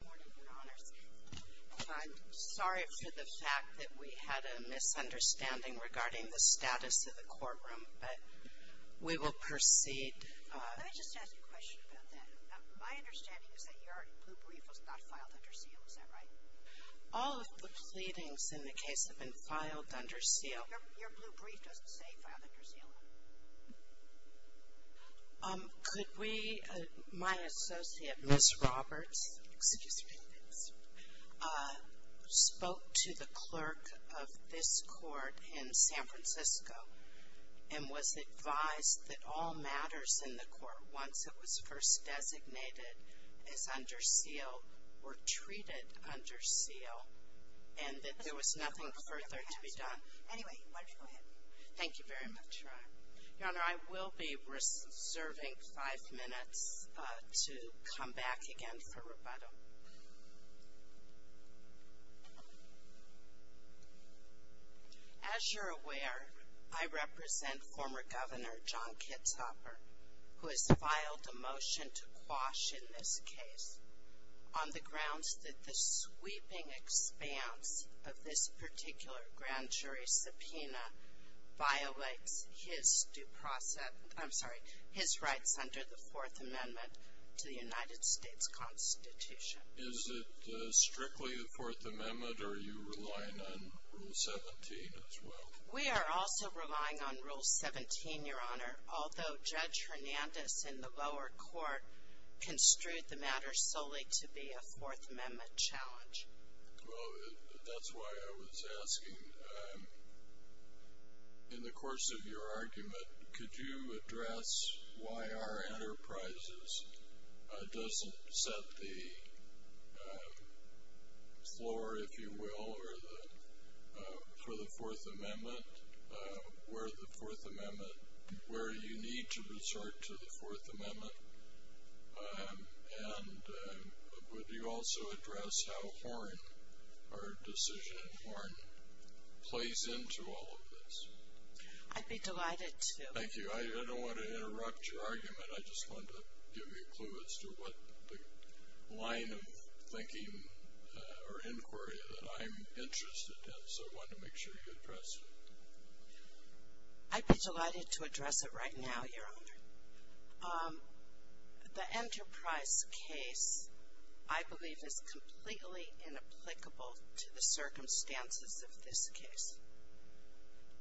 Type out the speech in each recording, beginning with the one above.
I'm sorry for the fact that we had a misunderstanding regarding the status of the courtroom, but we will proceed. Let me just ask you a question about that. My understanding is that your blue brief was not filed under seal, is that right? All of the pleadings in the case have been filed under seal. Your blue brief doesn't say filed under seal. Could we, my associate, Ms. Roberts, excuse me, spoke to the clerk of this court in San Francisco and was advised that all matters in the court once it was first designated as under seal were treated under seal and that there was nothing further to be done. Anyway, why don't you go ahead. Thank you very much, Your Honor. Your Honor, I will be reserving five minutes to come back again for rebuttal. As you're aware, I represent former Governor John Kitzhopper, who has filed a motion to his due process, I'm sorry, his rights under the Fourth Amendment to the United States Constitution. Is it strictly the Fourth Amendment or are you relying on Rule 17 as well? We are also relying on Rule 17, Your Honor, although Judge Hernandez in the lower court construed the matter solely to be a Fourth Amendment challenge. Well, that's why I was asking, in the course of your argument, could you address why our enterprises doesn't set the floor, if you will, for the Fourth Amendment, where the Fourth Amendment, where you need to resort to the Fourth Amendment? And would you also address how Horne, our decision in Horne, plays into all of this? I'd be delighted to. Thank you. I don't want to interrupt your argument, I just wanted to give you a clue as to what the line of thinking or inquiry that I'm interested in, so I wanted to make sure you addressed it. I'd be delighted to address it right now, Your Honor. The Enterprise case, I believe, is completely inapplicable to the circumstances of this case.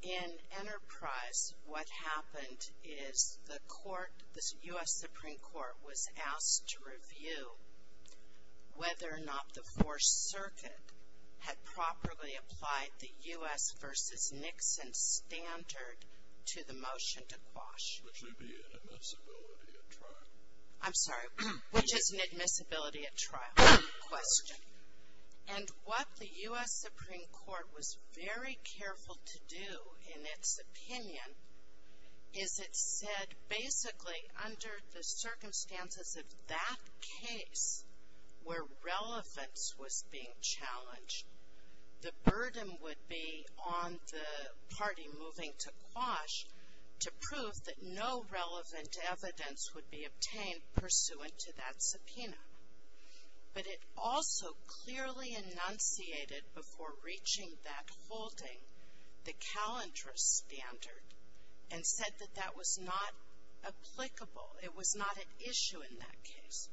In Enterprise, what happened is the court, the U.S. Supreme Court, was asked to review whether or not the Fourth Circuit had properly applied the U.S. versus Nixon standard to the motion to quash. Which would be an admissibility at trial. I'm sorry, which is an admissibility at trial question. And what the U.S. Supreme Court was very careful to do, in its opinion, is it said, basically, under the circumstances of that case, where relevance was being challenged, the burden would be on the party moving to quash to prove that no relevant evidence would be obtained pursuant to that subpoena. But it also clearly enunciated, before reaching that holding, the Calendris standard, and said that that was not applicable. It was not an issue in that case.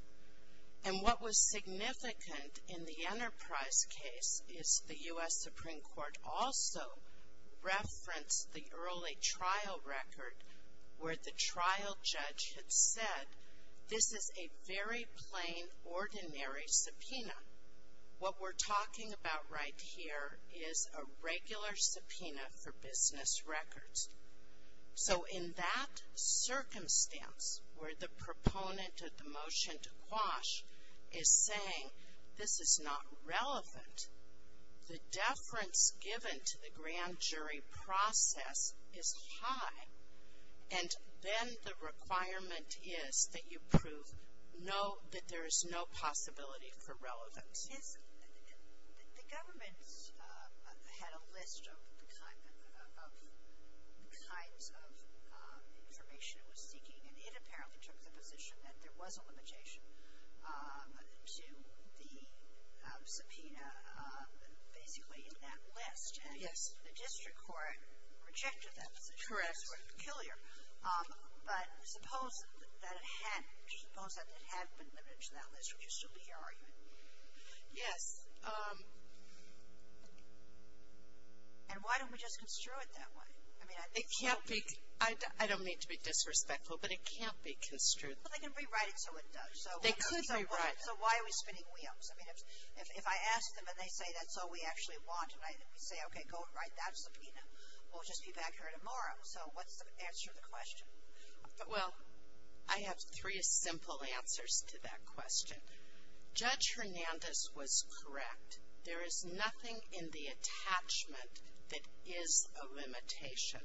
And what was significant in the Enterprise case is the U.S. Supreme Court also referenced the early trial record where the trial judge had said, this is a very plain, ordinary subpoena. What we're talking about right here is a regular subpoena for business records. So in that circumstance, where the proponent of the motion to quash is saying, this is not relevant, the deference given to the grand jury process is high. And then the requirement is that you prove no, that there is no possibility for relevance. Yes. The government had a list of the kinds of information it was seeking, and it apparently took the position that there was a limitation to the subpoena, basically, in that list. Yes. And the district court rejected that position. Correct. That's where it's peculiar. But suppose that it had been limited to that list, would you still be arguing? Yes. And why don't we just construe it that way? I mean, I think so. It can't be. I don't mean to be disrespectful, but it can't be construed. Well, they can rewrite it so it does. They could rewrite. So why are we spinning wheels? I mean, if I ask them and they say that's all we actually want, and I say, okay, go and write that subpoena, we'll just be back here tomorrow. So what's the answer to the question? Well, I have three simple answers to that question. Judge Hernandez was correct. There is nothing in the attachment that is a limitation.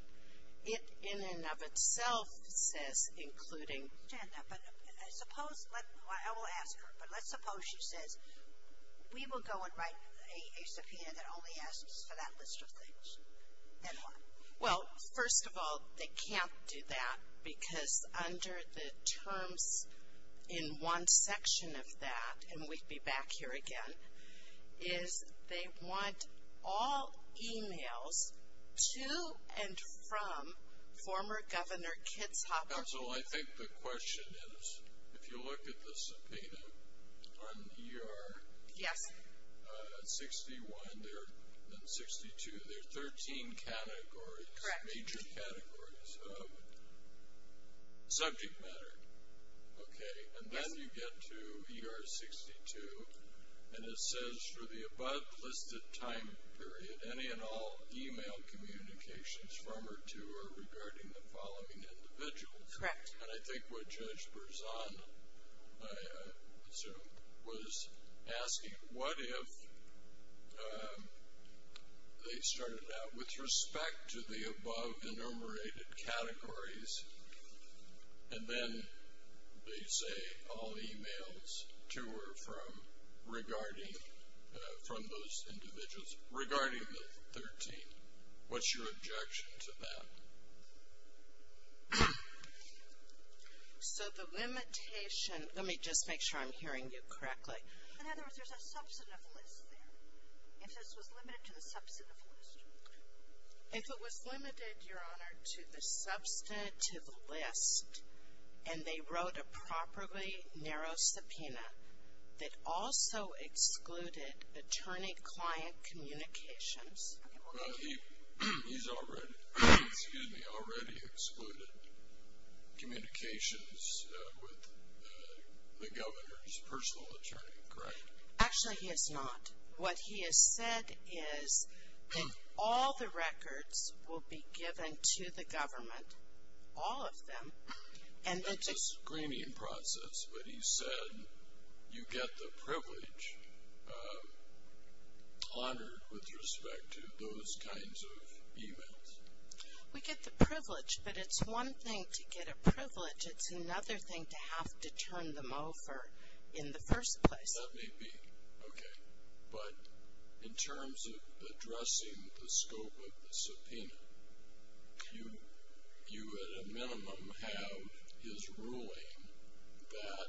It in and of itself says including. But I suppose, I will ask her, but let's suppose she says, we will go and write a subpoena that only asks for that list of things. Then what? Well, first of all, they can't do that because under the terms in one section of that, and we'd be back here again, is they want all emails to and from former Governor Kitzhaber. Counsel, I think the question is, if you look at the subpoena on ER- Yes. 61 and 62, there are 13 categories. Correct. Major categories of subject matter. Okay. And then you get to ER-62, and it says, for the above listed time period, any and all email communications from or to or regarding the following individuals. Correct. And I think what Judge Berzon, I assume, was asking, what if they started out with respect to the above enumerated categories, and then they say all emails to or from regarding, from those individuals, regarding the 13. What's your objection to that? So the limitation, let me just make sure I'm hearing you correctly. In other words, there's a substantive list there. If this was limited to the substantive list. If it was limited, Your Honor, to the substantive list, and they wrote a properly narrow subpoena that also excluded attorney-client communications- He's already, excuse me, already excluded communications with the governor's personal attorney, correct? Actually, he has not. What he has said is that all the records will be given to the government, all of them, and That's a screening process, but he said you get the privilege honored with respect to those kinds of emails. We get the privilege, but it's one thing to get a privilege, it's another thing to have to turn them over in the first place. That may be, okay. But in terms of addressing the scope of the subpoena, you at a minimum have his ruling that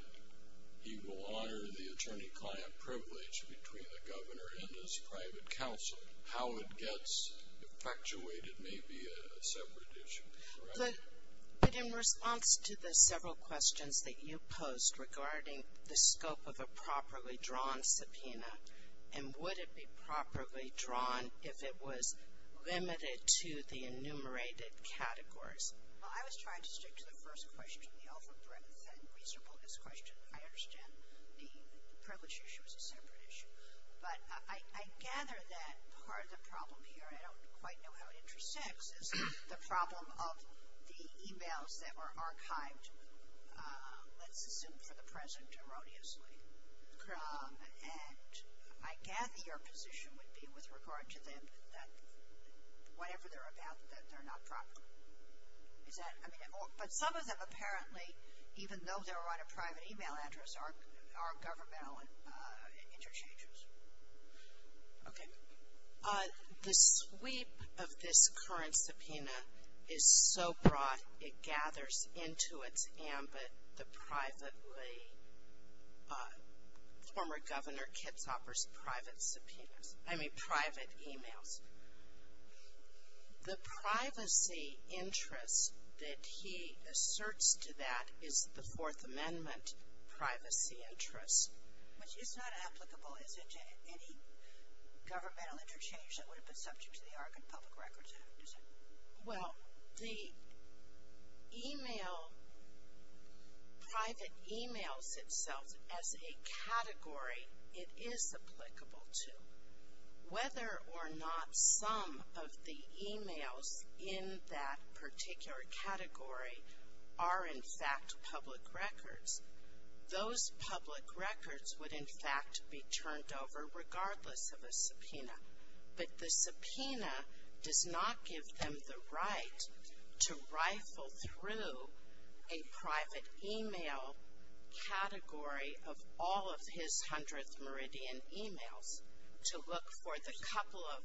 he will honor the attorney-client privilege between the governor and his private counsel. How it gets effectuated may be a separate issue, correct? But in response to the several questions that you posed regarding the scope of a properly drawn subpoena, and would it be properly drawn if it was limited to the enumerated categories? Well, I was trying to stick to the first question, the over breadth and reasonableness question. I understand the privilege issue is a separate issue. But I gather that part of the problem here, I don't quite know how it intersects, is the problem of the emails that were archived, let's assume for the present, erroneously. And I gather your position would be with regard to them that whatever they're about, that they're not proper. Is that, I mean, but some of them apparently, even though they're on a private email address, are governmental interchanges. Okay. The sweep of this current subpoena is so broad, it gathers into its ambit the privately, former Governor Kitzhaber's private subpoenas, I mean private emails. The privacy interest that he asserts to that is the Fourth Amendment privacy interest. Which is not applicable, is it, to any governmental interchange that would have been subject to the Oregon Public Records Act, is it? Well, the email, private emails itself, as a category, it is applicable to. Whether or not some of the emails in that particular category are, in fact, public records, those public records would, in fact, be turned over regardless of a subpoena. But the subpoena does not give them the right to rifle through a private email category of all of his hundredth meridian emails to look for the couple of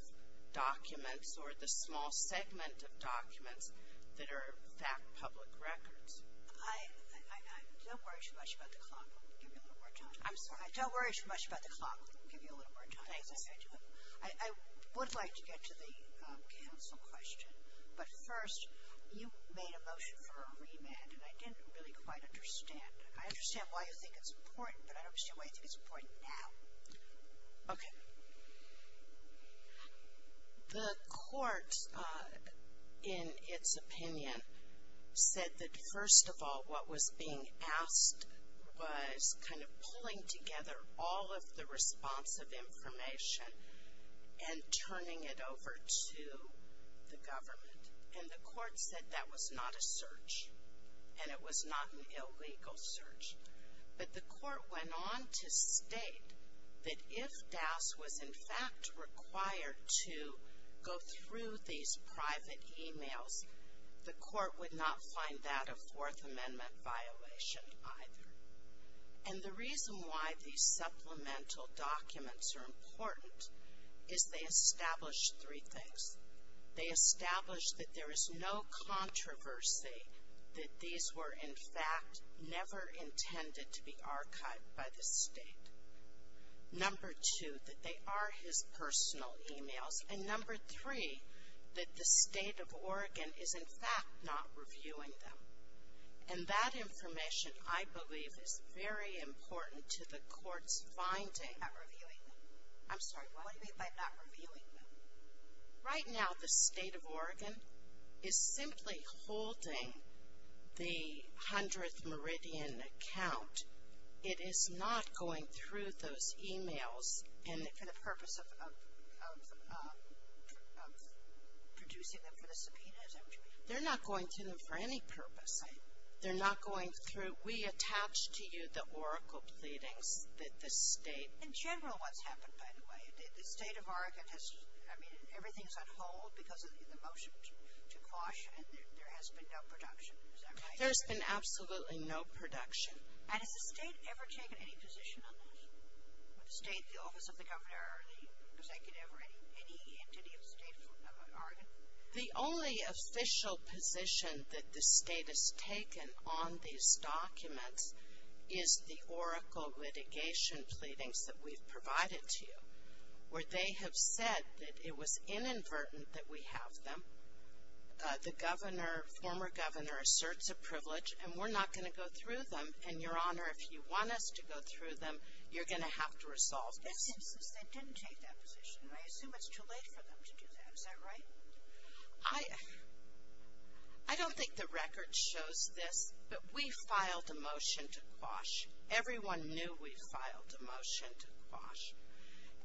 documents or the small segment of documents that are, in fact, public records. I don't worry too much about the clock. I'll give you a little more time. I'm sorry. I don't worry too much about the clock. I'll give you a little more time. Thanks. I would like to get to the counsel question. But first, you made a motion for a remand, and I didn't really quite understand. I understand why you think it's important, but I don't understand why you think it's important now. Okay. The court, in its opinion, said that, first of all, what was being asked was kind of pulling together all of the responsive information and turning it over to the government. And the court said that was not a search, and it was not an illegal search. But the court went on to state that if DAS was, in fact, required to go through these private emails, the court would not find that a Fourth Amendment violation either. And the reason why these supplemental documents are important is they establish three things. They establish that there is no controversy that these were, in fact, never intended to be archived by the state. Number two, that they are his personal emails. And number three, that the state of Oregon is, in fact, not reviewing them. And that information, I believe, is very important to the court's finding. Not reviewing them. I'm sorry. What do you mean by not reviewing them? Right now, the state of Oregon is simply holding the 100th Meridian account. It is not going through those emails. And for the purpose of producing them for the subpoena, is that what you mean? They're not going to them for any purpose. Right. They're not going through. We attach to you the Oracle pleadings that the state. In general, what's happened, by the way, the state of Oregon has, I mean, everything's on hold because of the motion to quash and there has been no production. Is that right? There's been absolutely no production. And has the state ever taken any position on this? The state, the Office of the Governor, or the Executive, or any entity of Oregon? The only official position that the state has taken on these documents is the Oracle litigation pleadings that we've provided to you. Where they have said that it was inadvertent that we have them. The Governor, former Governor, asserts a privilege. And we're not going to go through them. And, Your Honor, if you want us to go through them, you're going to have to resolve this. They didn't take that position. I assume it's too late for them to do that. Is that right? I don't think the record shows this, but we filed a motion to quash. Everyone knew we filed a motion to quash.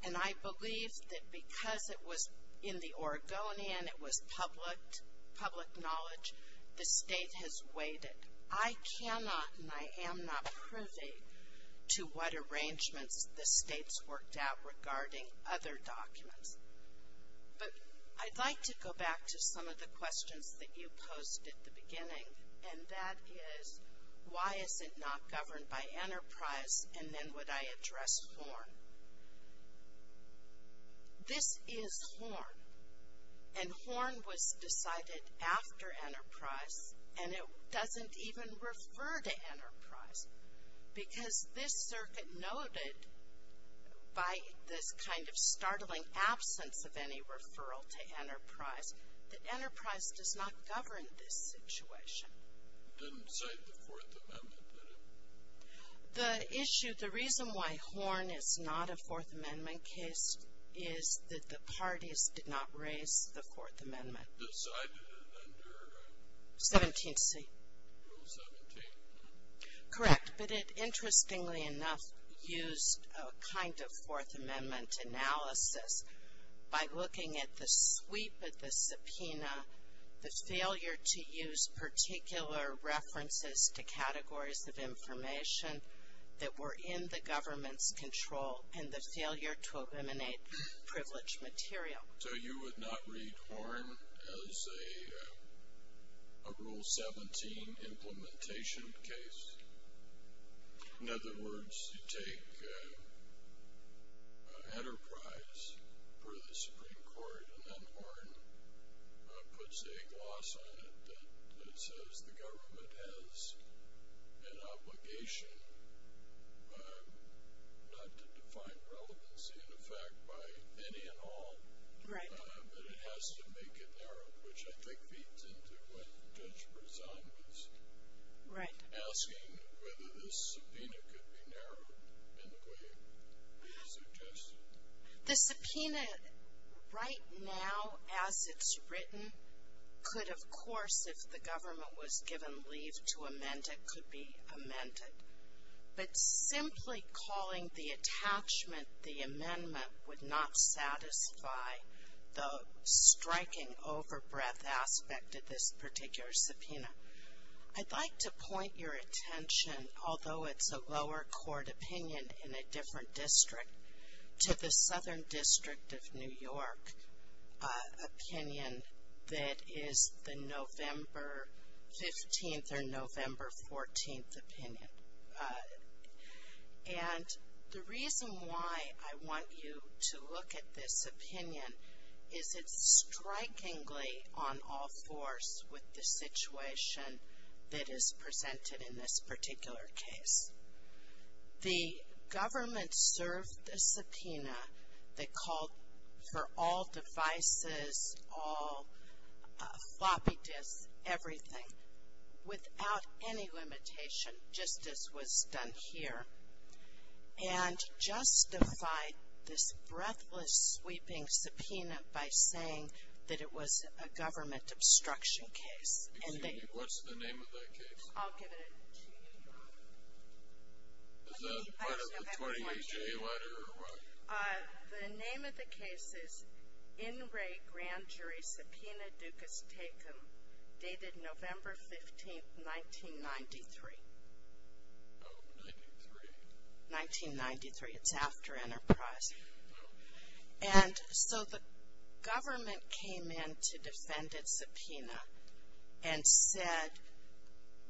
And I believe that because it was in the Oregonian, it was public knowledge, the state has waited. I cannot and I am not privy to what arrangements the state's worked out regarding other documents. But I'd like to go back to some of the questions that you posed at the beginning. And that is, why is it not governed by Enterprise? And then would I address Horn? This is Horn. And Horn was decided after Enterprise. And it doesn't even refer to Enterprise. Because this circuit noted, by this kind of startling absence of any referral to Enterprise, that Enterprise does not govern this situation. It didn't cite the Fourth Amendment, did it? The issue, the reason why Horn is not a Fourth Amendment case is that the parties did not raise the Fourth Amendment. Decided it under? 17th C. Rule 17. Correct. But it, interestingly enough, used a kind of Fourth Amendment analysis. By looking at the sweep of the subpoena, the failure to use particular references to categories of information that were in the government's control, and the failure to eliminate privileged material. So you would not read Horn as a Rule 17 implementation case? In other words, you take Enterprise for the Supreme Court, and then Horn puts a gloss on it that says the government has an obligation not to define relevancy in effect by any and all. Right. But it has to make it narrow, which I think feeds into what Judge Brezan was asking, whether this subpoena could be narrowed in the way he suggested. The subpoena right now, as it's written, could, of course, if the government was given leave to amend it, could be amended. But simply calling the attachment the amendment would not satisfy the striking overbreadth aspect of this particular subpoena. I'd like to point your attention, although it's a lower court opinion in a different district, to the Southern District of New York opinion that is the November 15th or November 14th opinion. And the reason why I want you to look at this opinion is it's strikingly on all fours with the situation that is presented in this particular case. The government served the subpoena that called for all devices, all floppy disks, everything, without any limitation, just as was done here, and justified this breathless, sweeping subpoena by saying that it was a government obstruction case. Excuse me, what's the name of that case? I'll give it to you. Is that part of the 20HA letter or what? The name of the case is In Re Grand Jury Subpoena Ducas Tecum, dated November 15th, 1993. 1993, it's after Enterprise. And so the government came in to defend its subpoena and said,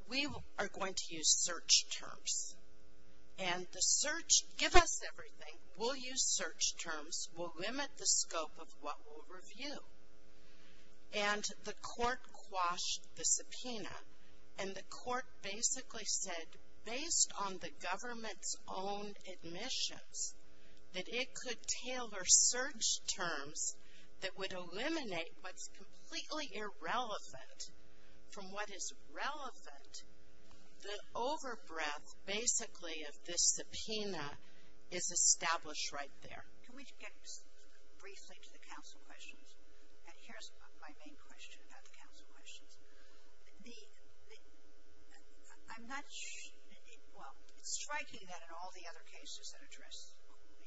we are going to use search terms. And the search, give us everything, we'll use search terms, we'll limit the scope of what we'll review. And the court quashed the subpoena. And the court basically said, based on the government's own admissions, that it could tailor search terms that would eliminate what's completely irrelevant from what is relevant. The overbreath, basically, of this subpoena is established right there. Can we get briefly to the counsel questions? And here's my main question about the counsel questions. The, I'm not sure, well, it's striking that in all the other cases that address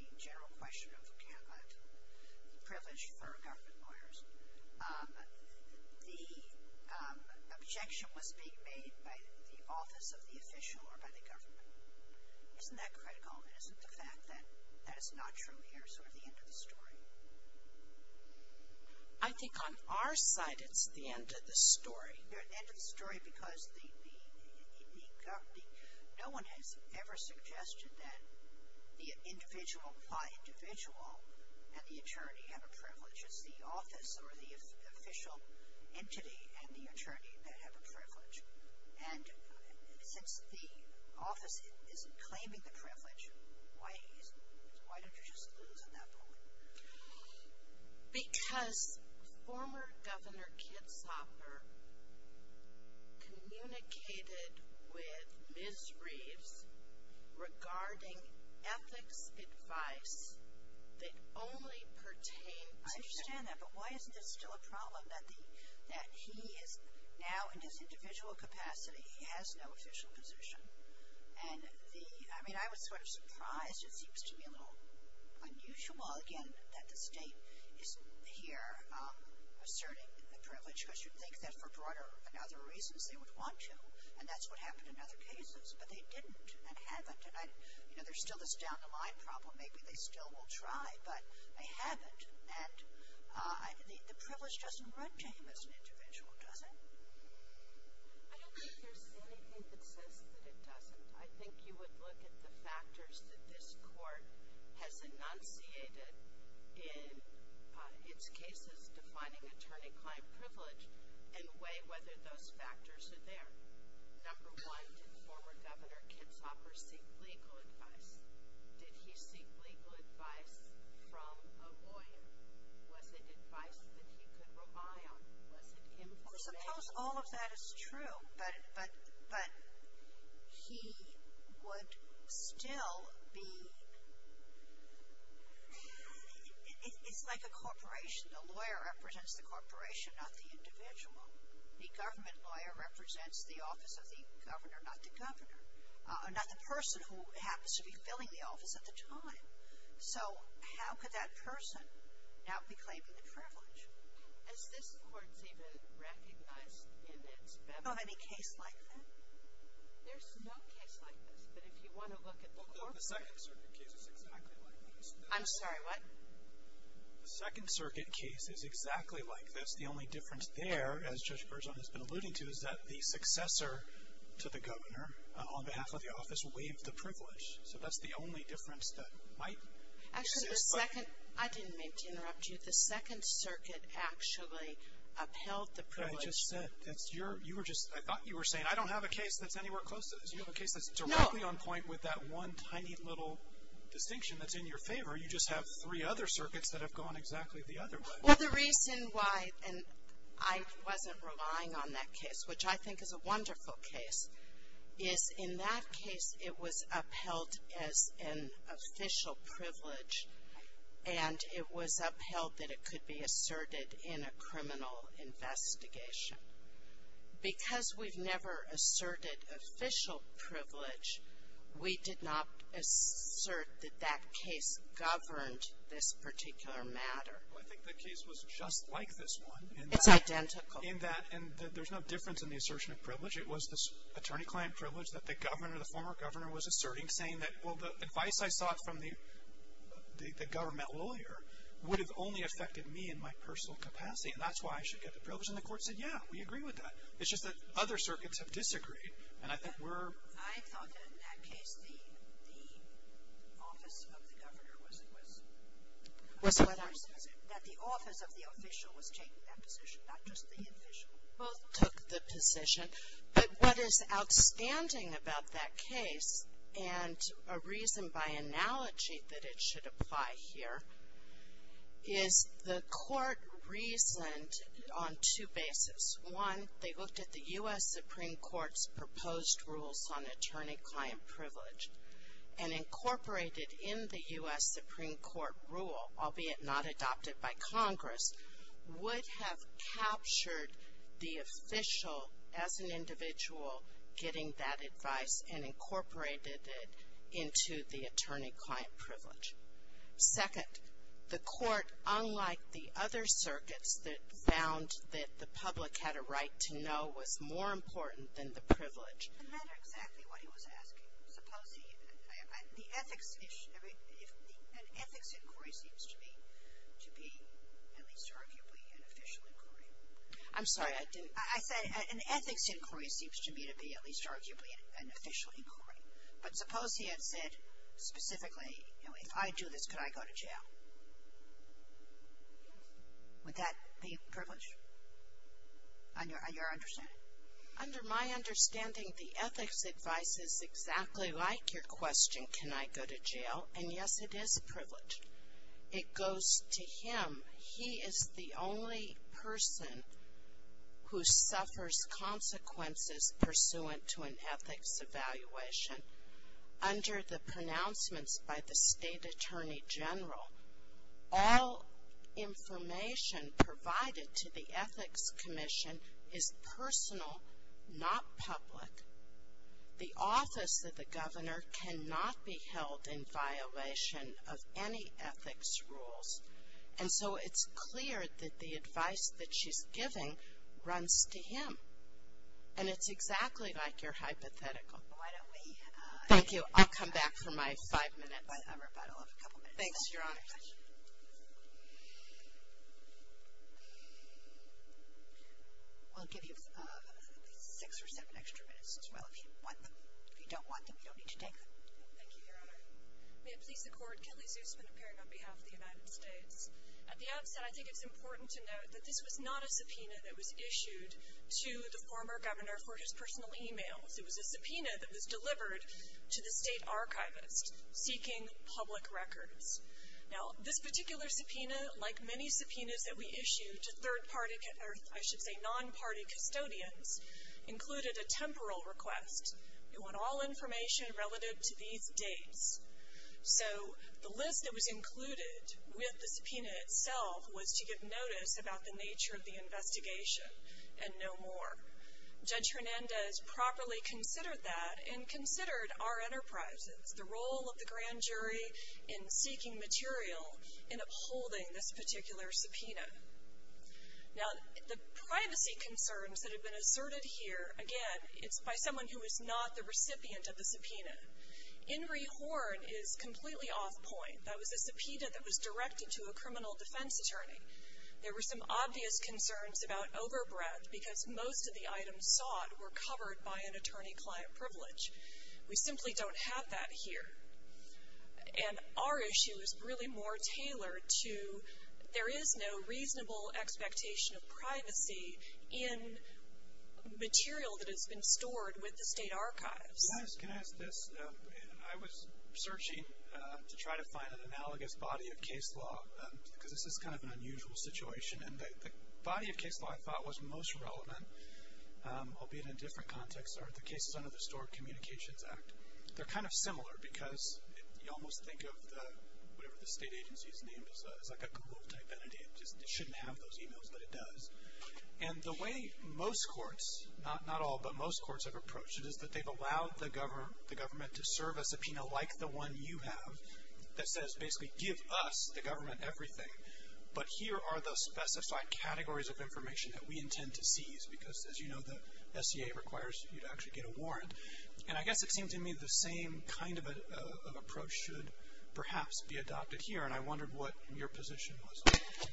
the general question of the privilege for government lawyers, the objection was being made by the office of the official or by the government. Isn't that critical? And isn't the fact that that is not true here sort of the end of the story? I think on our side it's the end of the story. The end of the story because the, no one has ever suggested that the individual, the individual and the attorney have a privilege. It's the office or the official entity and the attorney that have a privilege. And since the office isn't claiming the privilege, why don't you just lose on that point? Because former Governor Kitzhoffer communicated with Ms. Reeves regarding ethics advice that only pertained to. I understand that, but why isn't it still a problem that the, that he is now in this individual capacity, he has no official position? And the, I mean, I was sort of surprised. It seems to me a little unusual, again, that the state is here asserting the privilege because you'd think that for broader and other reasons they would want to. And that's what happened in other cases. But they didn't and haven't. And I, you know, there's still this down the line problem. Maybe they still will try, but they haven't. And the privilege doesn't run to him as an individual, does it? I don't think there's anything that says that it doesn't. I think you would look at the factors that this court has enunciated in its cases defining attorney-client privilege and weigh whether those factors are there. Number one, did former Governor Kitzhoffer seek legal advice? Did he seek legal advice from a lawyer? Was it advice that he could rely on? Was it him? Well, suppose all of that is true, but he would still be, it's like a corporation. The lawyer represents the corporation, not the individual. The government lawyer represents the office of the governor, not the governor. Not the person who happens to be filling the office at the time. So how could that person not be claiming the privilege? Is this court's even recognized in its benefit? Is there any case like that? There's no case like this, but if you want to look at the corporate. The Second Circuit case is exactly like this. I'm sorry, what? The Second Circuit case is exactly like this. The only difference there, as Judge Berzon has been alluding to, is that the successor to the governor on behalf of the office waived the privilege. So that's the only difference that might exist. Actually, the Second, I didn't mean to interrupt you. The Second Circuit actually upheld the privilege. I just said, that's your, you were just, I thought you were saying, I don't have a case that's anywhere close to this. You have a case that's directly on point with that one tiny little distinction that's in your favor. You just have three other circuits that have gone exactly the other way. Well, the reason why, and I wasn't relying on that case, which I think is a wonderful case, is in that case it was upheld as an official privilege, and it was upheld that it could be asserted in a criminal investigation. Because we've never asserted official privilege, we did not assert that that case governed this particular matter. Well, I think the case was just like this one. It's identical. It was this attorney-client privilege that the governor, the former governor, was asserting saying that, well, the advice I sought from the government lawyer would have only affected me in my personal capacity, and that's why I should get the privilege. And the court said, yeah, we agree with that. It's just that other circuits have disagreed. And I think we're. I thought that in that case the office of the governor was. Was what? That the office of the official was taking that position, not just the official. Both took the position. But what is outstanding about that case, and a reason by analogy that it should apply here, is the court reasoned on two bases. One, they looked at the U.S. Supreme Court's proposed rules on attorney-client privilege and incorporated in the U.S. Supreme Court rule, albeit not adopted by Congress, would have captured the official as an individual getting that advice and incorporated it into the attorney-client privilege. Second, the court, unlike the other circuits, that found that the public had a right to know was more important than the privilege. It doesn't matter exactly what he was asking. Suppose he. The ethics issue. An ethics inquiry seems to me to be at least arguably an official inquiry. I'm sorry. I didn't. I said an ethics inquiry seems to me to be at least arguably an official inquiry. But suppose he had said specifically, you know, if I do this, can I go to jail? Would that be privilege? On your understanding? Under my understanding, the ethics advice is exactly like your question, can I go to jail? And yes, it is a privilege. It goes to him. He is the only person who suffers consequences pursuant to an ethics evaluation. Under the pronouncements by the state attorney general, all information provided to the ethics commission is personal, not public. The office of the governor cannot be held in violation of any ethics rules. And so it's clear that the advice that she's giving runs to him. And it's exactly like your hypothetical. Thank you. I'll come back for my five minutes. Thanks, Your Honor. We'll give you six or seven extra minutes as well if you want them. If you don't want them, you don't need to take them. Thank you, Your Honor. May it please the court, Kelly Zusman appearing on behalf of the United States. At the outset, I think it's important to note that this was not a subpoena that was issued to the former governor for his personal e-mails. It was a subpoena that was delivered to the state archivist seeking public records. Now, this particular subpoena, like many subpoenas that we issue to third party, or I should say non-party custodians, included a temporal request. You want all information relative to these dates. So the list that was included with the subpoena itself was to give notice about the nature of the investigation and no more. Judge Hernandez properly considered that and considered our enterprises, the role of the grand jury in seeking material and upholding this particular subpoena. Now, the privacy concerns that have been asserted here, again, it's by someone who is not the recipient of the subpoena. Ingri Horn is completely off point. That was a subpoena that was directed to a criminal defense attorney. There were some obvious concerns about overbreadth because most of the items sought were covered by an attorney-client privilege. We simply don't have that here. And our issue is really more tailored to, there is no reasonable expectation of privacy in material that has been stored with the state archives. Yes, can I ask this? I was searching to try to find an analogous body of case law, because this is kind of an unusual situation. And the body of case law I thought was most relevant, albeit in a different context, are the cases under the Stored Communications Act. They're kind of similar because you almost think of the, whatever the state agency is named is like a glove type entity. It shouldn't have those emails, but it does. And the way most courts, not all, but most courts have approached it, is that they've allowed the government to serve a subpoena like the one you have, that says basically give us, the government, everything, but here are the specified categories of information that we intend to seize. Because, as you know, the SCA requires you to actually get a warrant. And I guess it seemed to me the same kind of approach should perhaps be adopted here, and I wondered what your position was on that.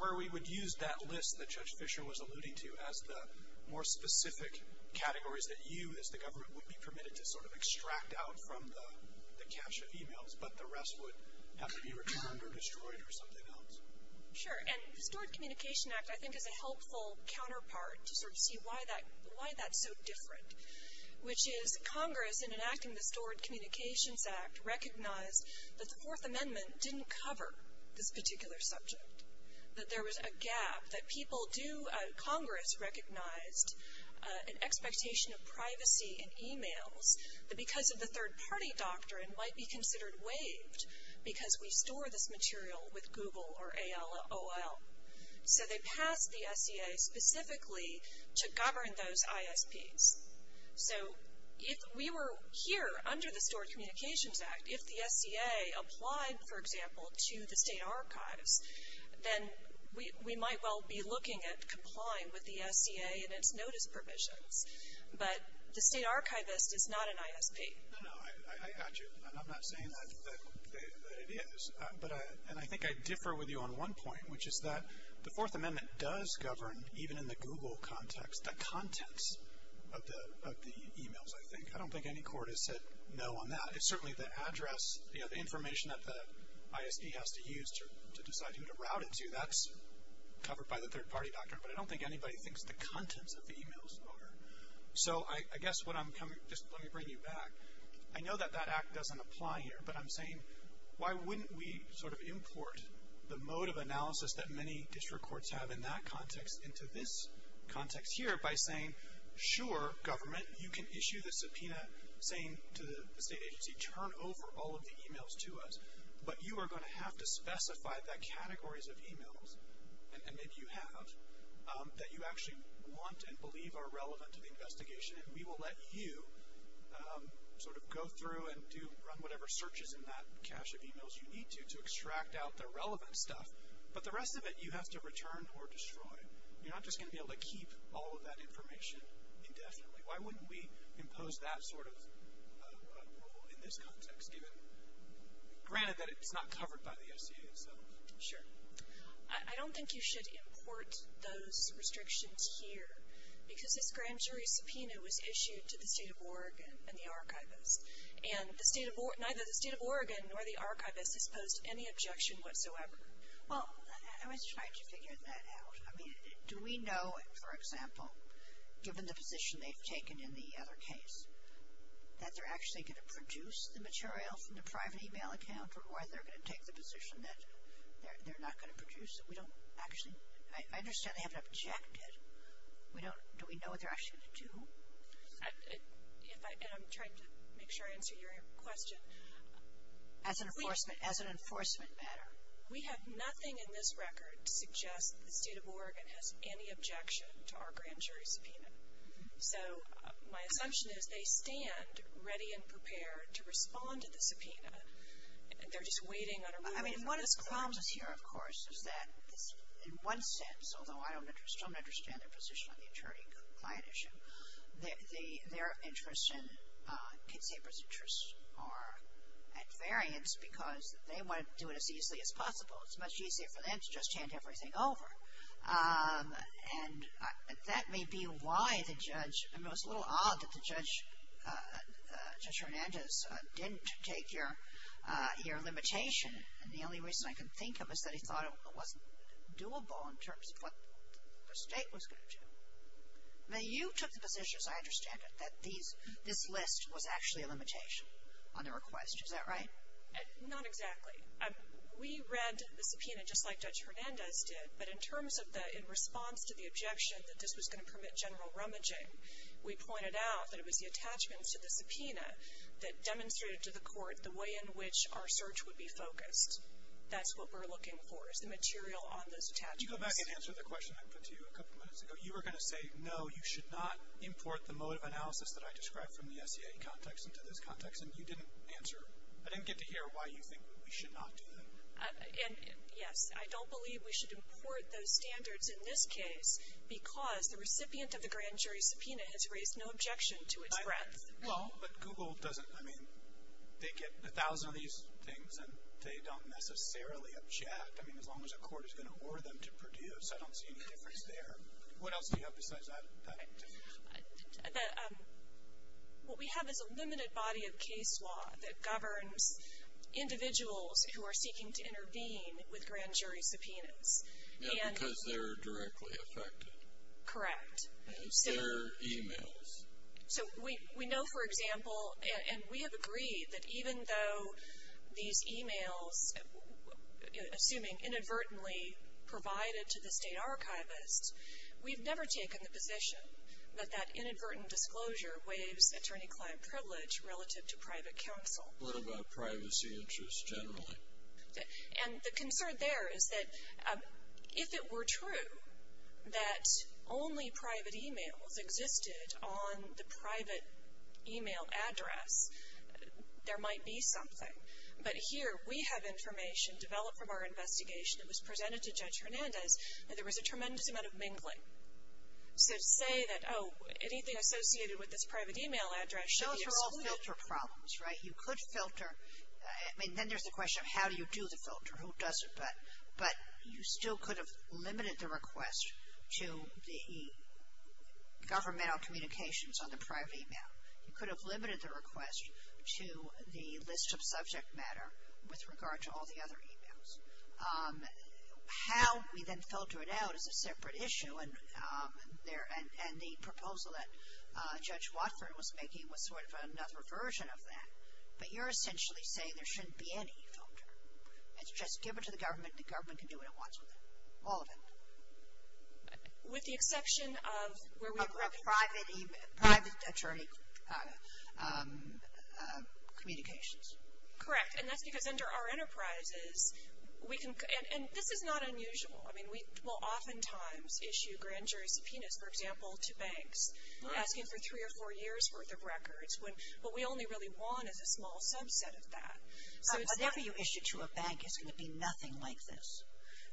Where we would use that list that Judge Fisher was alluding to as the more specific categories that you, as the government, would be permitted to sort of extract out from the cache of emails, but the rest would have to be returned or destroyed or something else. Sure, and the Stored Communication Act, I think, is a helpful counterpart to sort of see why that's so different. Which is Congress, in enacting the Stored Communications Act, recognized that the Fourth Amendment didn't cover this particular subject. That there was a gap, that people do, Congress recognized, an expectation of privacy in emails, that because of the third party doctrine might be considered waived, because we store this material with Google or AOL. So they passed the SCA specifically to govern those ISPs. So if we were here, under the Stored Communications Act, if the SCA applied, for example, to the state archives, then we might well be looking at complying with the SCA and its notice provisions. But the state archivist is not an ISP. No, no, I got you, and I'm not saying that it is. But, and I think I differ with you on one point, which is that the Fourth Amendment does govern, even in the Google context, the contents of the emails, I think. I don't think any court has said no on that. It's certainly the address, the information that the ISP has to use to decide who to route it to, that's covered by the third party doctrine. But I don't think anybody thinks the contents of the emails are. So I guess what I'm coming, just let me bring you back. I know that that act doesn't apply here, but I'm saying, why wouldn't we sort of import the mode of analysis that many district courts have in that context into this context here by saying, sure, government, you can issue the subpoena, saying to the state agency, turn over all of the emails to us, but you are going to have to specify that categories of emails, and maybe you have, that you actually want and believe are relevant to the investigation, and we will let you sort of go through and do, run whatever searches in that cache of emails you need to, to extract out the relevant stuff, but the rest of it, you have to return or destroy. You're not just going to be able to keep all of that information indefinitely. Why wouldn't we impose that sort of rule in this context, given, granted that it's not covered by the SCA itself. Sure. I don't think you should import those restrictions here, because this grand jury subpoena was issued to the state of Oregon and the archivist, and the state of, neither the state of Oregon nor the archivist has posed any objection whatsoever. Well, I was trying to figure that out. I mean, do we know, for example, given the position they've taken in the other case, that they're actually going to produce the material from the private email account, or are they going to take the position that they're not going to produce it? We don't actually, I understand they haven't objected. We don't, do we know what they're actually going to do? If I, and I'm trying to make sure I answer your question. As an enforcement, as an enforcement matter. We have nothing in this record to suggest that the state of Oregon has any objection to our grand jury subpoena. So, my assumption is they stand ready and prepared to respond to the subpoena. They're just waiting on a rule. I mean, one of the problems here, of course, is that in one sense, although I don't understand their position on the attorney-client issue, their interest and Kate Sabre's interest are at variance because they want to do it as easily as possible. It's much easier for them to just hand everything over. And that may be why the judge, I mean, it was a little odd that the judge, Judge Hernandez, didn't take your limitation. And the only reason I can think of is that he thought it wasn't doable in terms of what the state was going to do. Now, you took the position, as I understand it, that these, this list was actually a limitation on the request. Is that right? Not exactly. We read the subpoena just like Judge Hernandez did. But in terms of the, in response to the objection that this was going to permit general rummaging, we pointed out that it was the attachments to the subpoena that demonstrated to the court the way in which our search would be focused. That's what we're looking for, is the material on those attachments. Did you go back and answer the question I put to you a couple minutes ago? You were going to say, no, you should not import the motive analysis that I described from the SEA context into this context. And you didn't answer, I didn't get to hear why you think we should not do that. And, yes, I don't believe we should import those standards in this case because the recipient of the grand jury subpoena has raised no objection to its breadth. Well, but Google doesn't, I mean, they get a thousand of these things and they don't necessarily object. I mean, as long as a court is going to order them to produce, I don't see any difference there. What else do you have besides that? What we have is a limited body of case law that governs individuals who are seeking to intervene with grand jury subpoenas. Yeah, because they're directly affected. Correct. And their emails. So we know, for example, and we have agreed that even though these emails, assuming inadvertently, provided to the state archivist, we've never taken the position that that inadvertent disclosure waives attorney-client privilege relative to private counsel. What about privacy interests generally? And the concern there is that if it were true that only private emails existed on the private email address, there might be something. But here, we have information developed from our investigation that was presented to Judge Hernandez that there was a tremendous amount of mingling. So to say that, oh, anything associated with this private email address should be excluded. Those are all filter problems, right? You could filter, I mean, then there's the question of how do you do the filter? Who does it? But you still could have limited the request to the governmental communications on the private email. You could have limited the request to the list of subject matter with regard to all the other emails. How we then filter it out is a separate issue. And the proposal that Judge Watford was making was sort of another version of that. But you're essentially saying there shouldn't be any filter. It's just give it to the government, and the government can do what it wants with it. All of it. With the exception of where we. Of private email, private attorney communications. Correct. And that's because under our enterprises, we can, and this is not unusual. I mean, we will oftentimes issue grand jury subpoenas, for example, to banks. Asking for three or four years' worth of records. What we only really want is a small subset of that. Whatever you issue to a bank is going to be nothing like this.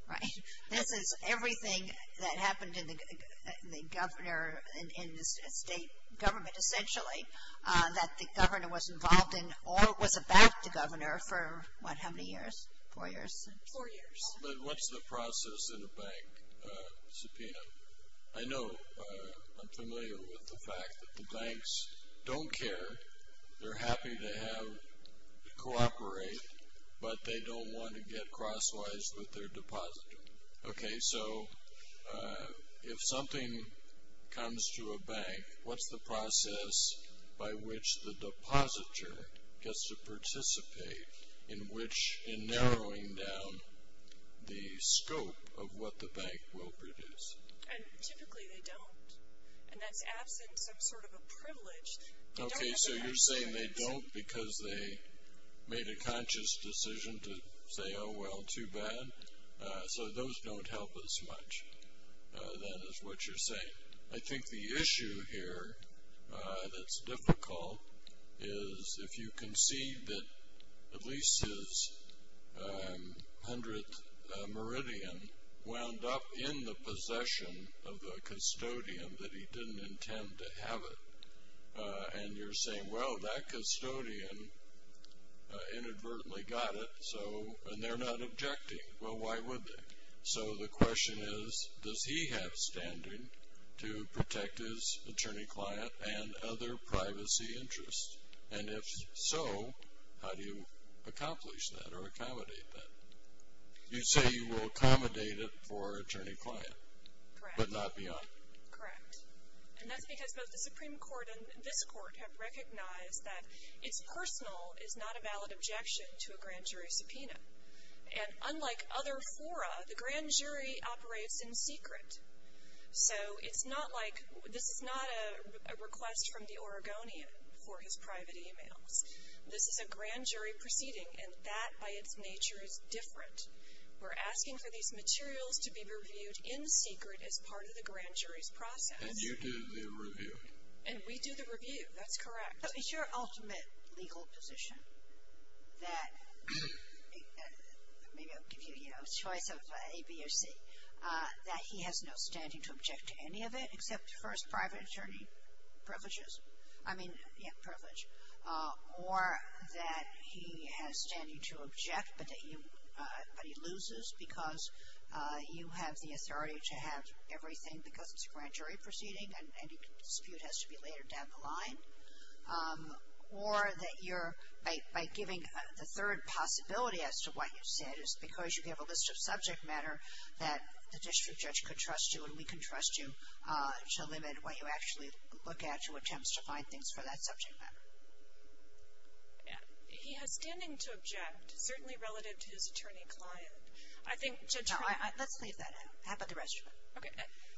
Right? This is everything that happened in the governor, in the state government essentially, that the governor was involved in or was about the governor for, what, how many years? Four years? Four years. But what's the process in a bank subpoena? I know I'm familiar with the fact that the banks don't care. They're happy to cooperate, but they don't want to get crosswise with their depositor. Okay. So if something comes to a bank, what's the process by which the depositor gets to participate in which in narrowing down the scope of what the bank will produce? And typically they don't. And that's absent some sort of a privilege. Okay. So you're saying they don't because they made a conscious decision to say, oh, well, too bad. So those don't help us much. That is what you're saying. I think the issue here that's difficult is if you can see that at least his 100th meridian wound up in the possession of the custodian that he didn't intend to have it, and you're saying, well, that custodian inadvertently got it, and they're not objecting. Well, why would they? So the question is, does he have standing to protect his attorney-client and other privacy interests? And if so, how do you accomplish that or accommodate that? You say you will accommodate it for attorney-client. Correct. But not beyond. Correct. And that's because both the Supreme Court and this Court have recognized that it's personal is not a valid objection to a grand jury subpoena. And unlike other fora, the grand jury operates in secret. So it's not like this is not a request from the Oregonian for his private e-mails. This is a grand jury proceeding, and that by its nature is different. We're asking for these materials to be reviewed in secret as part of the grand jury's process. And you do the review. And we do the review. That's correct. So it's your ultimate legal position that, maybe I'll give you a choice of A, B, or C, that he has no standing to object to any of it except first private attorney privileges. I mean, yeah, privilege. Or that he has standing to object, but he loses because you have the authority to have everything because it's a grand jury proceeding, and any dispute has to be later down the line. Or that you're, by giving the third possibility as to what you said is because you have a list of subject matter that the district judge could trust you, and we can trust you to limit what you actually look at to attempts to find things for that subject matter. He has standing to object, certainly relative to his attorney client. I think judge. Let's leave that out. How about the rest of it? Okay.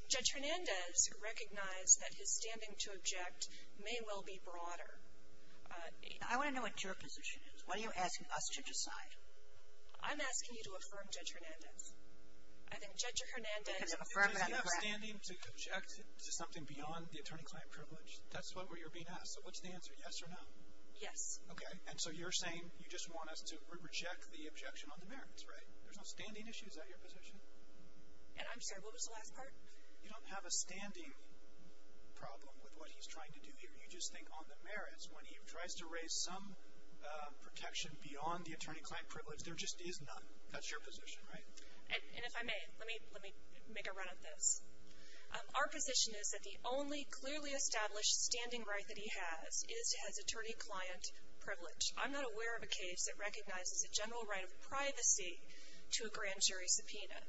Judge Hernandez recognized that his standing to object may well be broader. I want to know what your position is. Why are you asking us to decide? I'm asking you to affirm Judge Hernandez. I think Judge Hernandez affirmed it on the ground. Because you have standing to object to something beyond the attorney client privilege. That's what you're being asked. So what's the answer, yes or no? Yes. Okay. And so you're saying you just want us to reject the objection on the merits, right? There's no standing issue. Is that your position? And I'm sorry, what was the last part? You don't have a standing problem with what he's trying to do here. You just think on the merits. When he tries to raise some protection beyond the attorney client privilege, there just is none. That's your position, right? And if I may, let me make a run at this. Our position is that the only clearly established standing right that he has is his attorney client privilege. I'm not aware of a case that recognizes a general right of privacy to a grand jury subpoena.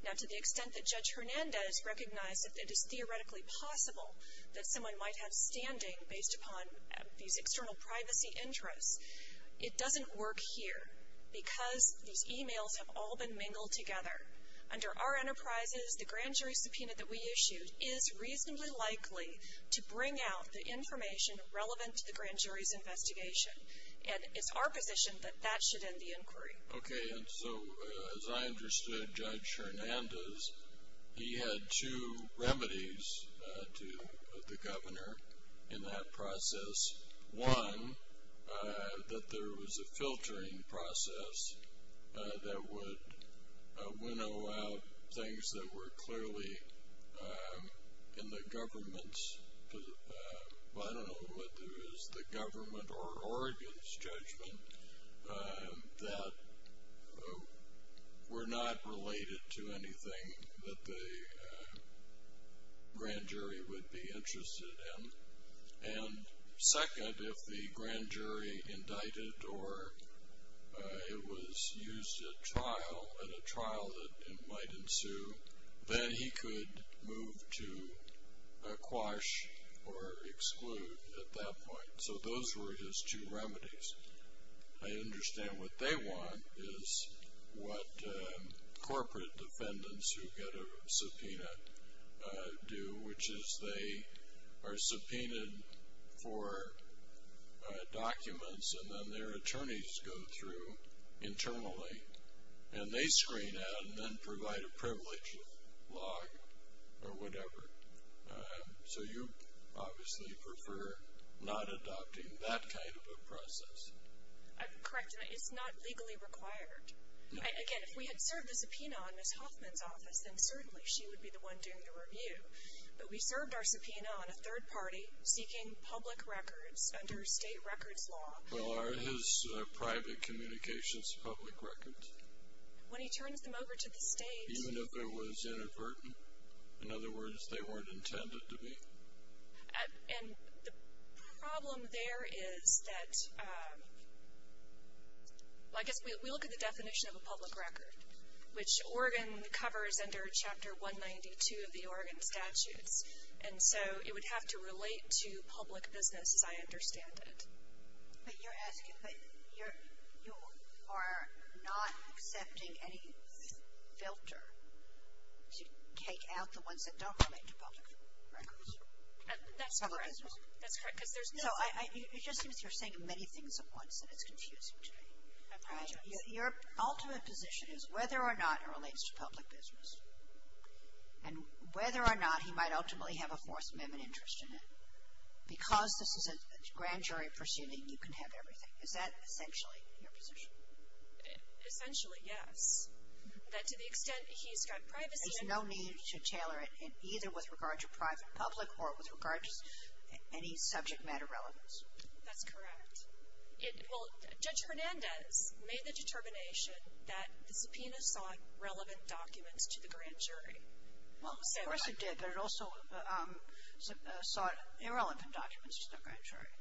Now, to the extent that Judge Hernandez recognized that it is theoretically possible that someone might have standing based upon these external privacy interests, it doesn't work here because these e-mails have all been mingled together. Under our enterprises, the grand jury subpoena that we issued is reasonably likely to bring out the information relevant to the grand jury's investigation. Okay, and so as I understood Judge Hernandez, he had two remedies to the governor in that process. One, that there was a filtering process that would winnow out things that were clearly in the government's position. I don't know whether it was the government or Oregon's judgment that were not related to anything that the grand jury would be interested in. And second, if the grand jury indicted or it was used at trial, at a trial that might ensue, then he could move to a quash or exclude at that point. So those were his two remedies. I understand what they want is what corporate defendants who get a subpoena do, which is they are subpoenaed for documents and then their attorneys go through internally and they screen out and then provide a privilege log or whatever. So you obviously prefer not adopting that kind of a process. Correct, it's not legally required. Again, if we had served the subpoena on Ms. Hoffman's office, then certainly she would be the one doing the review. But we served our subpoena on a third party seeking public records under state records law. Well, are his private communications public records? When he turns them over to the state. Even if it was inadvertent. In other words, they weren't intended to be. And the problem there is that I guess we look at the definition of a public record, which Oregon covers under Chapter 192 of the Oregon Statutes. And so it would have to relate to public business as I understand it. But you're asking, but you are not accepting any filter to take out the ones that don't relate to public records. That's correct. So it just seems you're saying many things at once and it's confusing to me. Your ultimate position is whether or not it relates to public business. And whether or not he might ultimately have a Fourth Amendment interest in it. Because this is a grand jury proceeding, you can have everything. Is that essentially your position? Essentially, yes. That to the extent he's got privacy. There's no need to tailor it either with regard to private public or with regard to any subject matter relevance. That's correct. Well, Judge Hernandez made the determination that the subpoena sought relevant documents to the grand jury. Well, of course it did. But it also sought irrelevant documents to the grand jury.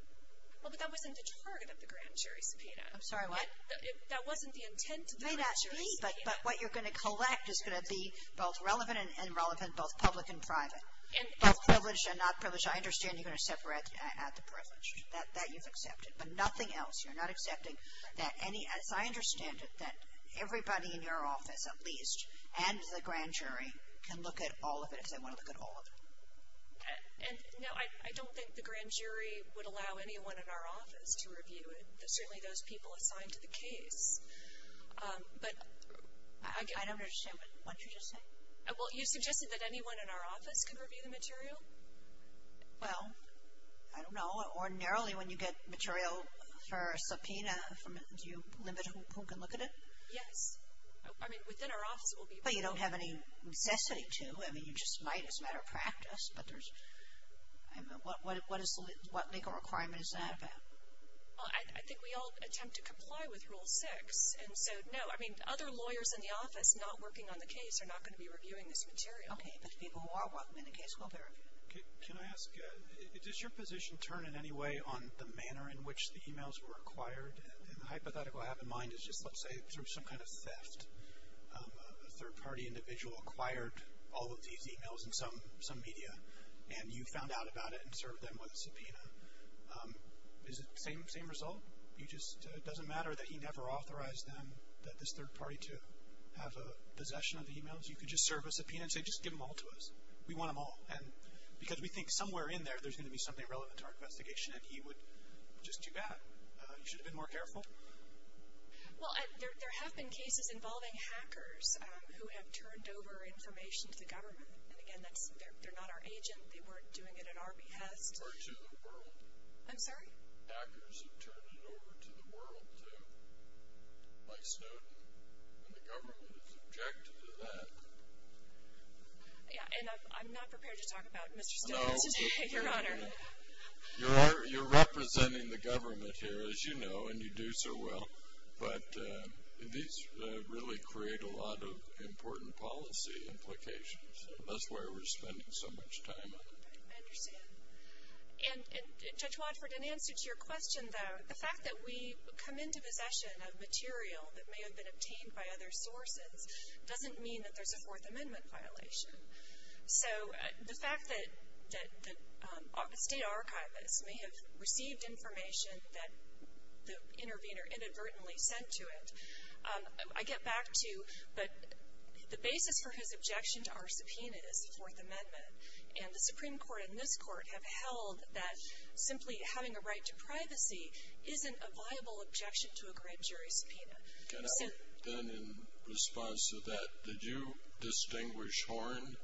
Well, but that wasn't the target of the grand jury subpoena. I'm sorry, what? That wasn't the intent of the grand jury subpoena. But what you're going to collect is going to be both relevant and irrelevant both public and private. Both privileged and not privileged. I understand you're going to separate out the privileged. That you've accepted. But nothing else. You're not accepting that any, as I understand it, that everybody in your office at least and the grand jury can look at all of it if they want to look at all of it. No, I don't think the grand jury would allow anyone in our office to review it. Certainly those people assigned to the case. I don't understand what you just said. Well, you suggested that anyone in our office could review the material? Well, I don't know. Ordinarily when you get material for a subpoena, do you limit who can look at it? Yes. I mean, within our office it will be. Well, you don't have any necessity to. I mean, you just might as a matter of practice. But there's, I don't know, what legal requirement is that about? I think we all attempt to comply with Rule 6. And so, no, I mean, other lawyers in the office not working on the case are not going to be reviewing this material. Okay, but people who are working on the case will verify it. Can I ask, does your position turn in any way on the manner in which the emails were acquired? And the hypothetical I have in mind is just, let's say, through some kind of theft. A third-party individual acquired all of these emails in some media, and you found out about it and served them with a subpoena. Is it the same result? It just doesn't matter that he never authorized them, that this third party to have a possession of the emails? You could just serve a subpoena and say, just give them all to us. We want them all. And because we think somewhere in there there's going to be something relevant to our investigation, and he would, just too bad. You should have been more careful. Well, there have been cases involving hackers who have turned over information to the government. And, again, they're not our agent. They weren't doing it on our behest. Or to the world. I'm sorry? Hackers have turned it over to the world by Snowden, and the government has objected to that. Yeah, and I'm not prepared to talk about Mr. Snowden today, Your Honor. You're representing the government here, as you know, and you do so well. But these really create a lot of important policy implications. That's why we're spending so much time on them. I understand. And, Judge Watford, in answer to your question, though, the fact that we come into possession of material that may have been obtained by other sources doesn't mean that there's a Fourth Amendment violation. So the fact that the State Archivist may have received information that the intervener inadvertently sent to it, I get back to, but the basis for his objection to our subpoena is the Fourth Amendment. And the Supreme Court and this Court have held that simply having a right to privacy isn't a viable objection to a grand jury subpoena. Okay. Then in response to that, did you distinguish Horne?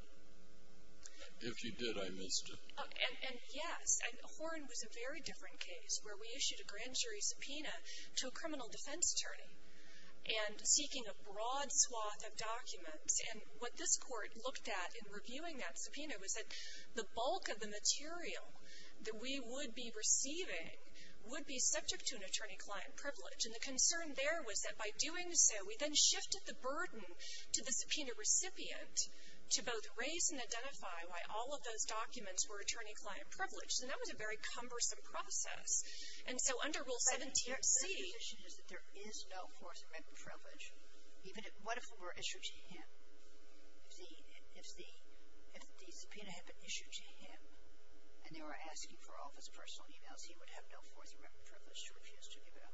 If you did, I missed it. And, yes, Horne was a very different case, where we issued a grand jury subpoena to a criminal defense attorney and seeking a broad swath of documents. And what this Court looked at in reviewing that subpoena was that the bulk of the material that we would be receiving would be subject to an attorney-client privilege. And the concern there was that by doing so, we then shifted the burden to the subpoena recipient to both raise and identify why all of those documents were attorney-client privilege. And that was a very cumbersome process. And so under Rule 17c… But his position is that there is no Fourth Amendment privilege. What if it were issued to him? If the subpoena had been issued to him, and they were asking for all of his personal e-mails, he would have no Fourth Amendment privilege to refuse to give it up?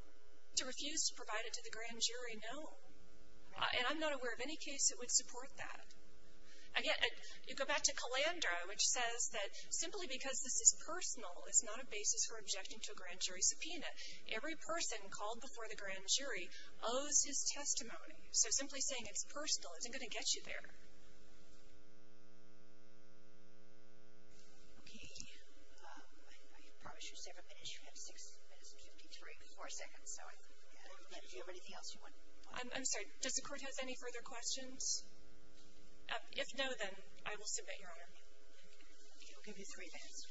To refuse to provide it to the grand jury, no. And I'm not aware of any case that would support that. Again, you go back to Calandra, which says that simply because this is personal is not a basis for objecting to a grand jury subpoena. Every person called before the grand jury owes his testimony. So simply saying it's personal isn't going to get you there. Okay. I promise you several minutes. You have 6 minutes and 53, 4 seconds. So if you have anything else you want… I'm sorry. Does the Court have any further questions? If no, then I will submit, Your Honor. Okay. We'll give you three minutes.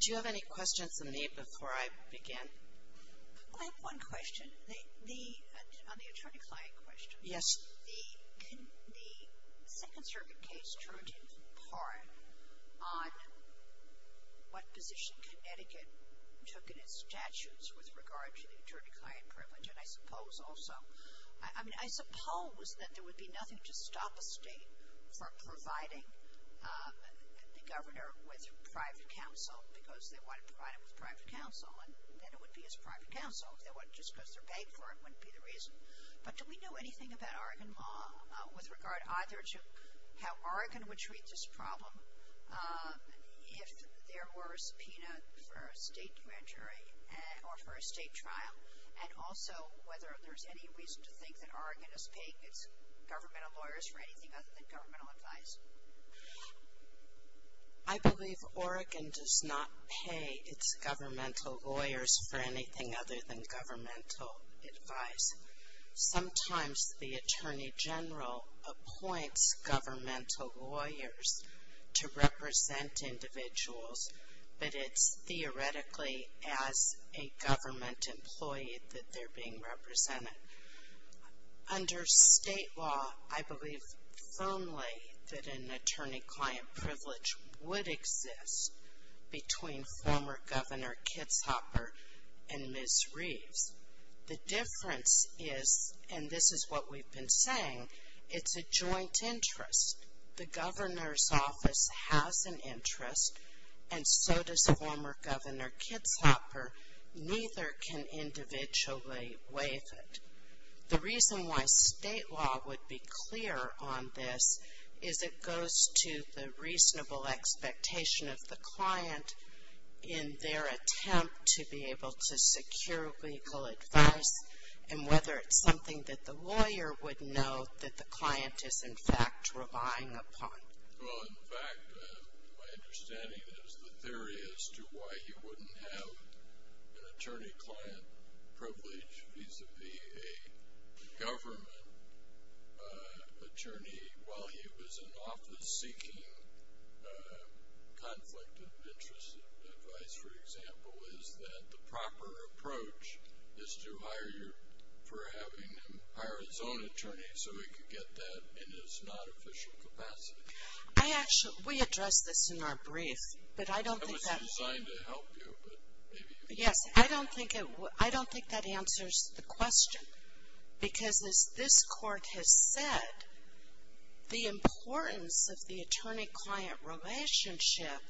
Do you have any questions of me before I begin? I have one question on the attorney-client question. Yes. The Second Circuit case turned in part on what position Connecticut took in its statutes with regard to the attorney-client privilege. And I suppose also, I mean, I suppose, that there would be nothing to stop a state from providing the governor with private counsel because they want to provide him with private counsel. And then it would be his private counsel. Just because they're paying for it wouldn't be the reason. But do we know anything about Oregon law with regard either to how Oregon would treat this problem if there were a subpoena for a state grand jury or for a state trial, and also whether there's any reason to think that Oregon is paying its governmental lawyers for anything other than governmental advice? I believe Oregon does not pay its governmental lawyers for anything other than governmental advice. Sometimes the Attorney General appoints governmental lawyers to represent individuals, but it's theoretically as a government employee that they're being represented. Under state law, I believe firmly that an attorney-client privilege would exist between former Governor Kitzhopper and Ms. Reeves. The difference is, and this is what we've been saying, it's a joint interest. The governor's office has an interest, and so does former Governor Kitzhopper. Neither can individually waive it. The reason why state law would be clear on this is it goes to the reasonable expectation of the client in their attempt to be able to secure legal advice, and whether it's something that the lawyer would know that the client is, in fact, relying upon. Well, in fact, my understanding is the theory as to why you wouldn't have an attorney-client privilege vis-a-vis a government attorney while he was in office seeking conflict of interest advice, for example, is that the proper approach is to hire you for having him hire his own attorney so he could get that in his non-official capacity. I actually, we addressed this in our brief, but I don't think that. It was designed to help you, but maybe. Yes, I don't think that answers the question, because as this court has said, the importance of the attorney-client relationship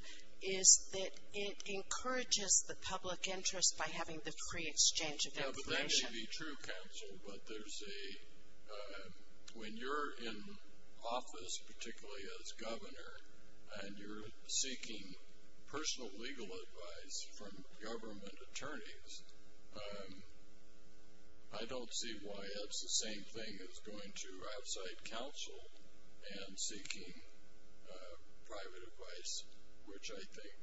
is that it encourages the public interest by having the free exchange of information. Yeah, but that may be true, counsel, but there's a, when you're in office, particularly as governor, and you're seeking personal legal advice from government attorneys, I don't see why that's the same thing as going to outside counsel and seeking private advice, which I think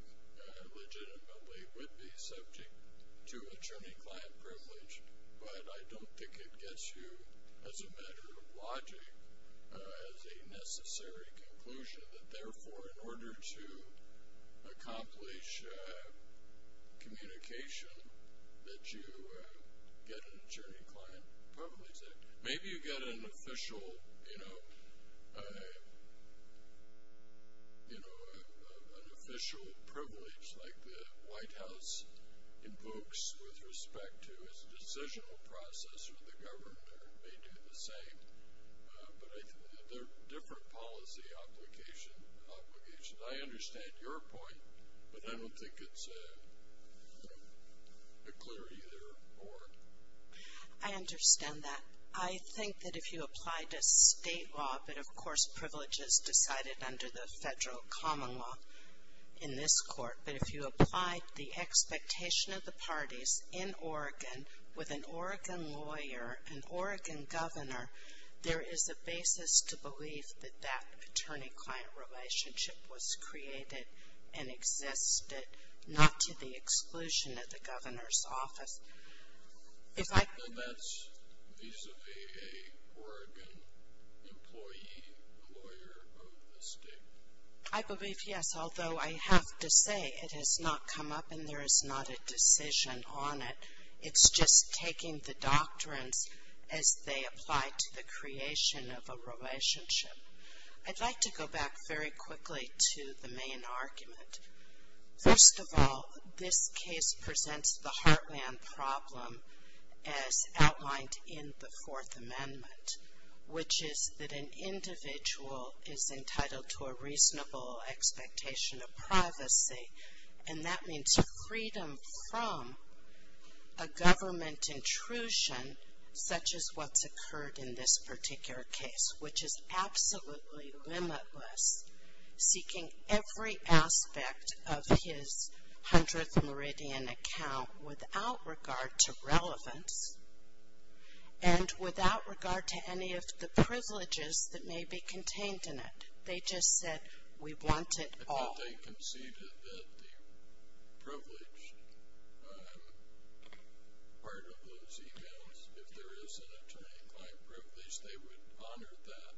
legitimately would be subject to attorney-client privilege, but I don't think it gets you, as a matter of logic, as a necessary conclusion, that therefore, in order to accomplish communication, that you get an attorney-client privilege. Maybe you get an official, you know, an official privilege like the White House invokes with respect to its decisional process, or the governor may do the same, but they're different policy obligations. I understand your point, but I don't think it's a clear either or. I understand that. I think that if you apply to state law, but, of course, privileges decided under the federal common law in this court, but if you apply the expectation of the parties in Oregon with an Oregon lawyer, an Oregon governor, there is a basis to believe that that attorney-client relationship was created and existed, not to the exclusion of the governor's office. If I. Well, that's vis-a-vis a Oregon employee, a lawyer of the state. I believe, yes, although I have to say it has not come up and there is not a decision on it. It's just taking the doctrines as they apply to the creation of a relationship. I'd like to go back very quickly to the main argument. First of all, this case presents the heartland problem as outlined in the Fourth Amendment, which is that an individual is entitled to a reasonable expectation of privacy, and that means freedom from a government intrusion such as what's occurred in this particular case, which is absolutely limitless, seeking every aspect of his 100th Meridian account without regard to relevance and without regard to any of the privileges that may be contained in it. They just said, we want it all. I thought they conceded that the privileged part of those emails, if there is an attorney-client privilege, they would honor that.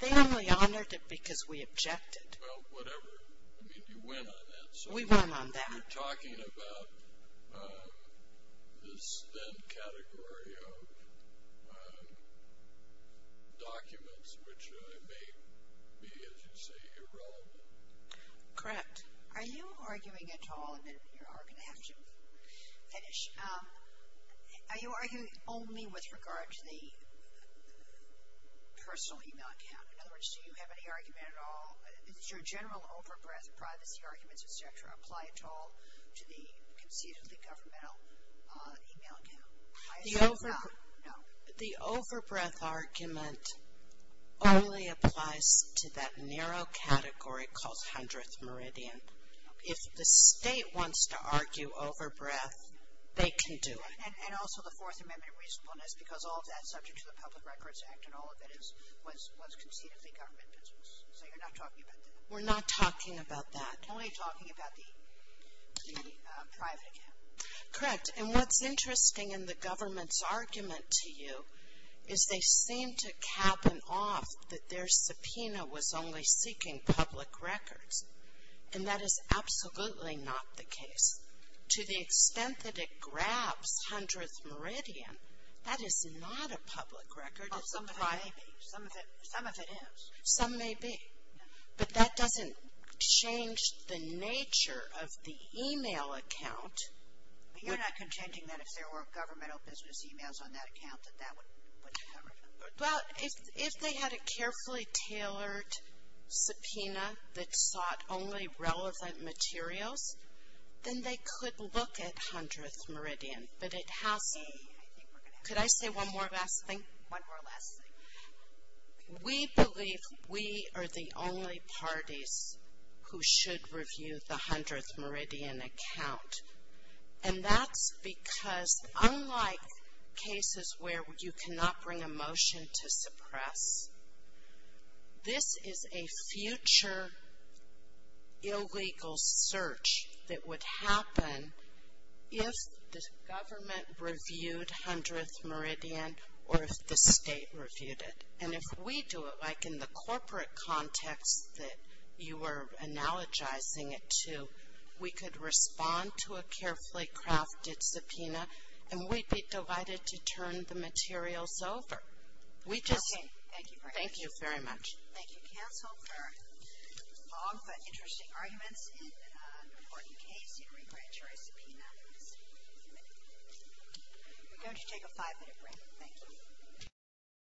They only honored it because we objected. Well, whatever. I mean, you went on that. We went on that. You're talking about this then category of documents which may be, as you say, irrelevant. Correct. Are you arguing at all, and then you're going to have to finish, are you arguing only with regard to the personal email account? In other words, do you have any argument at all, does your general over-breath privacy arguments, et cetera, apply at all to the conceit of the governmental email account? I assume not. No. The over-breath argument only applies to that narrow category called 100th Meridian. If the state wants to argue over-breath, they can do it. And also the Fourth Amendment reasonableness because all of that is subject to the Public Records Act and all of it was conceit of the government business. So you're not talking about that. We're not talking about that. Only talking about the private account. Correct. And what's interesting in the government's argument to you is they seem to cabin off that their subpoena was only seeking public records. And that is absolutely not the case. To the extent that it grabs 100th Meridian, that is not a public record. Well, some of it may be. Some of it is. Some may be. But that doesn't change the nature of the email account. You're not contending that if there were governmental business emails on that account that that would cover them? Well, if they had a carefully tailored subpoena that sought only relevant materials, then they could look at 100th Meridian. But it has to be. Could I say one more last thing? One more last thing. We believe we are the only parties who should review the 100th Meridian account. And that's because unlike cases where you cannot bring a motion to suppress, this is a future illegal search that would happen if the government reviewed 100th Meridian or if the state reviewed it. And if we do it, like in the corporate context that you were analogizing it to, we could respond to a carefully crafted subpoena, and we'd be delighted to turn the materials over. We just — Okay. Thank you very much. Thank you very much. Thank you, counsel, for long but interesting arguments in an important case. You regrant your subpoena. We're going to take a five-minute break. Thank you.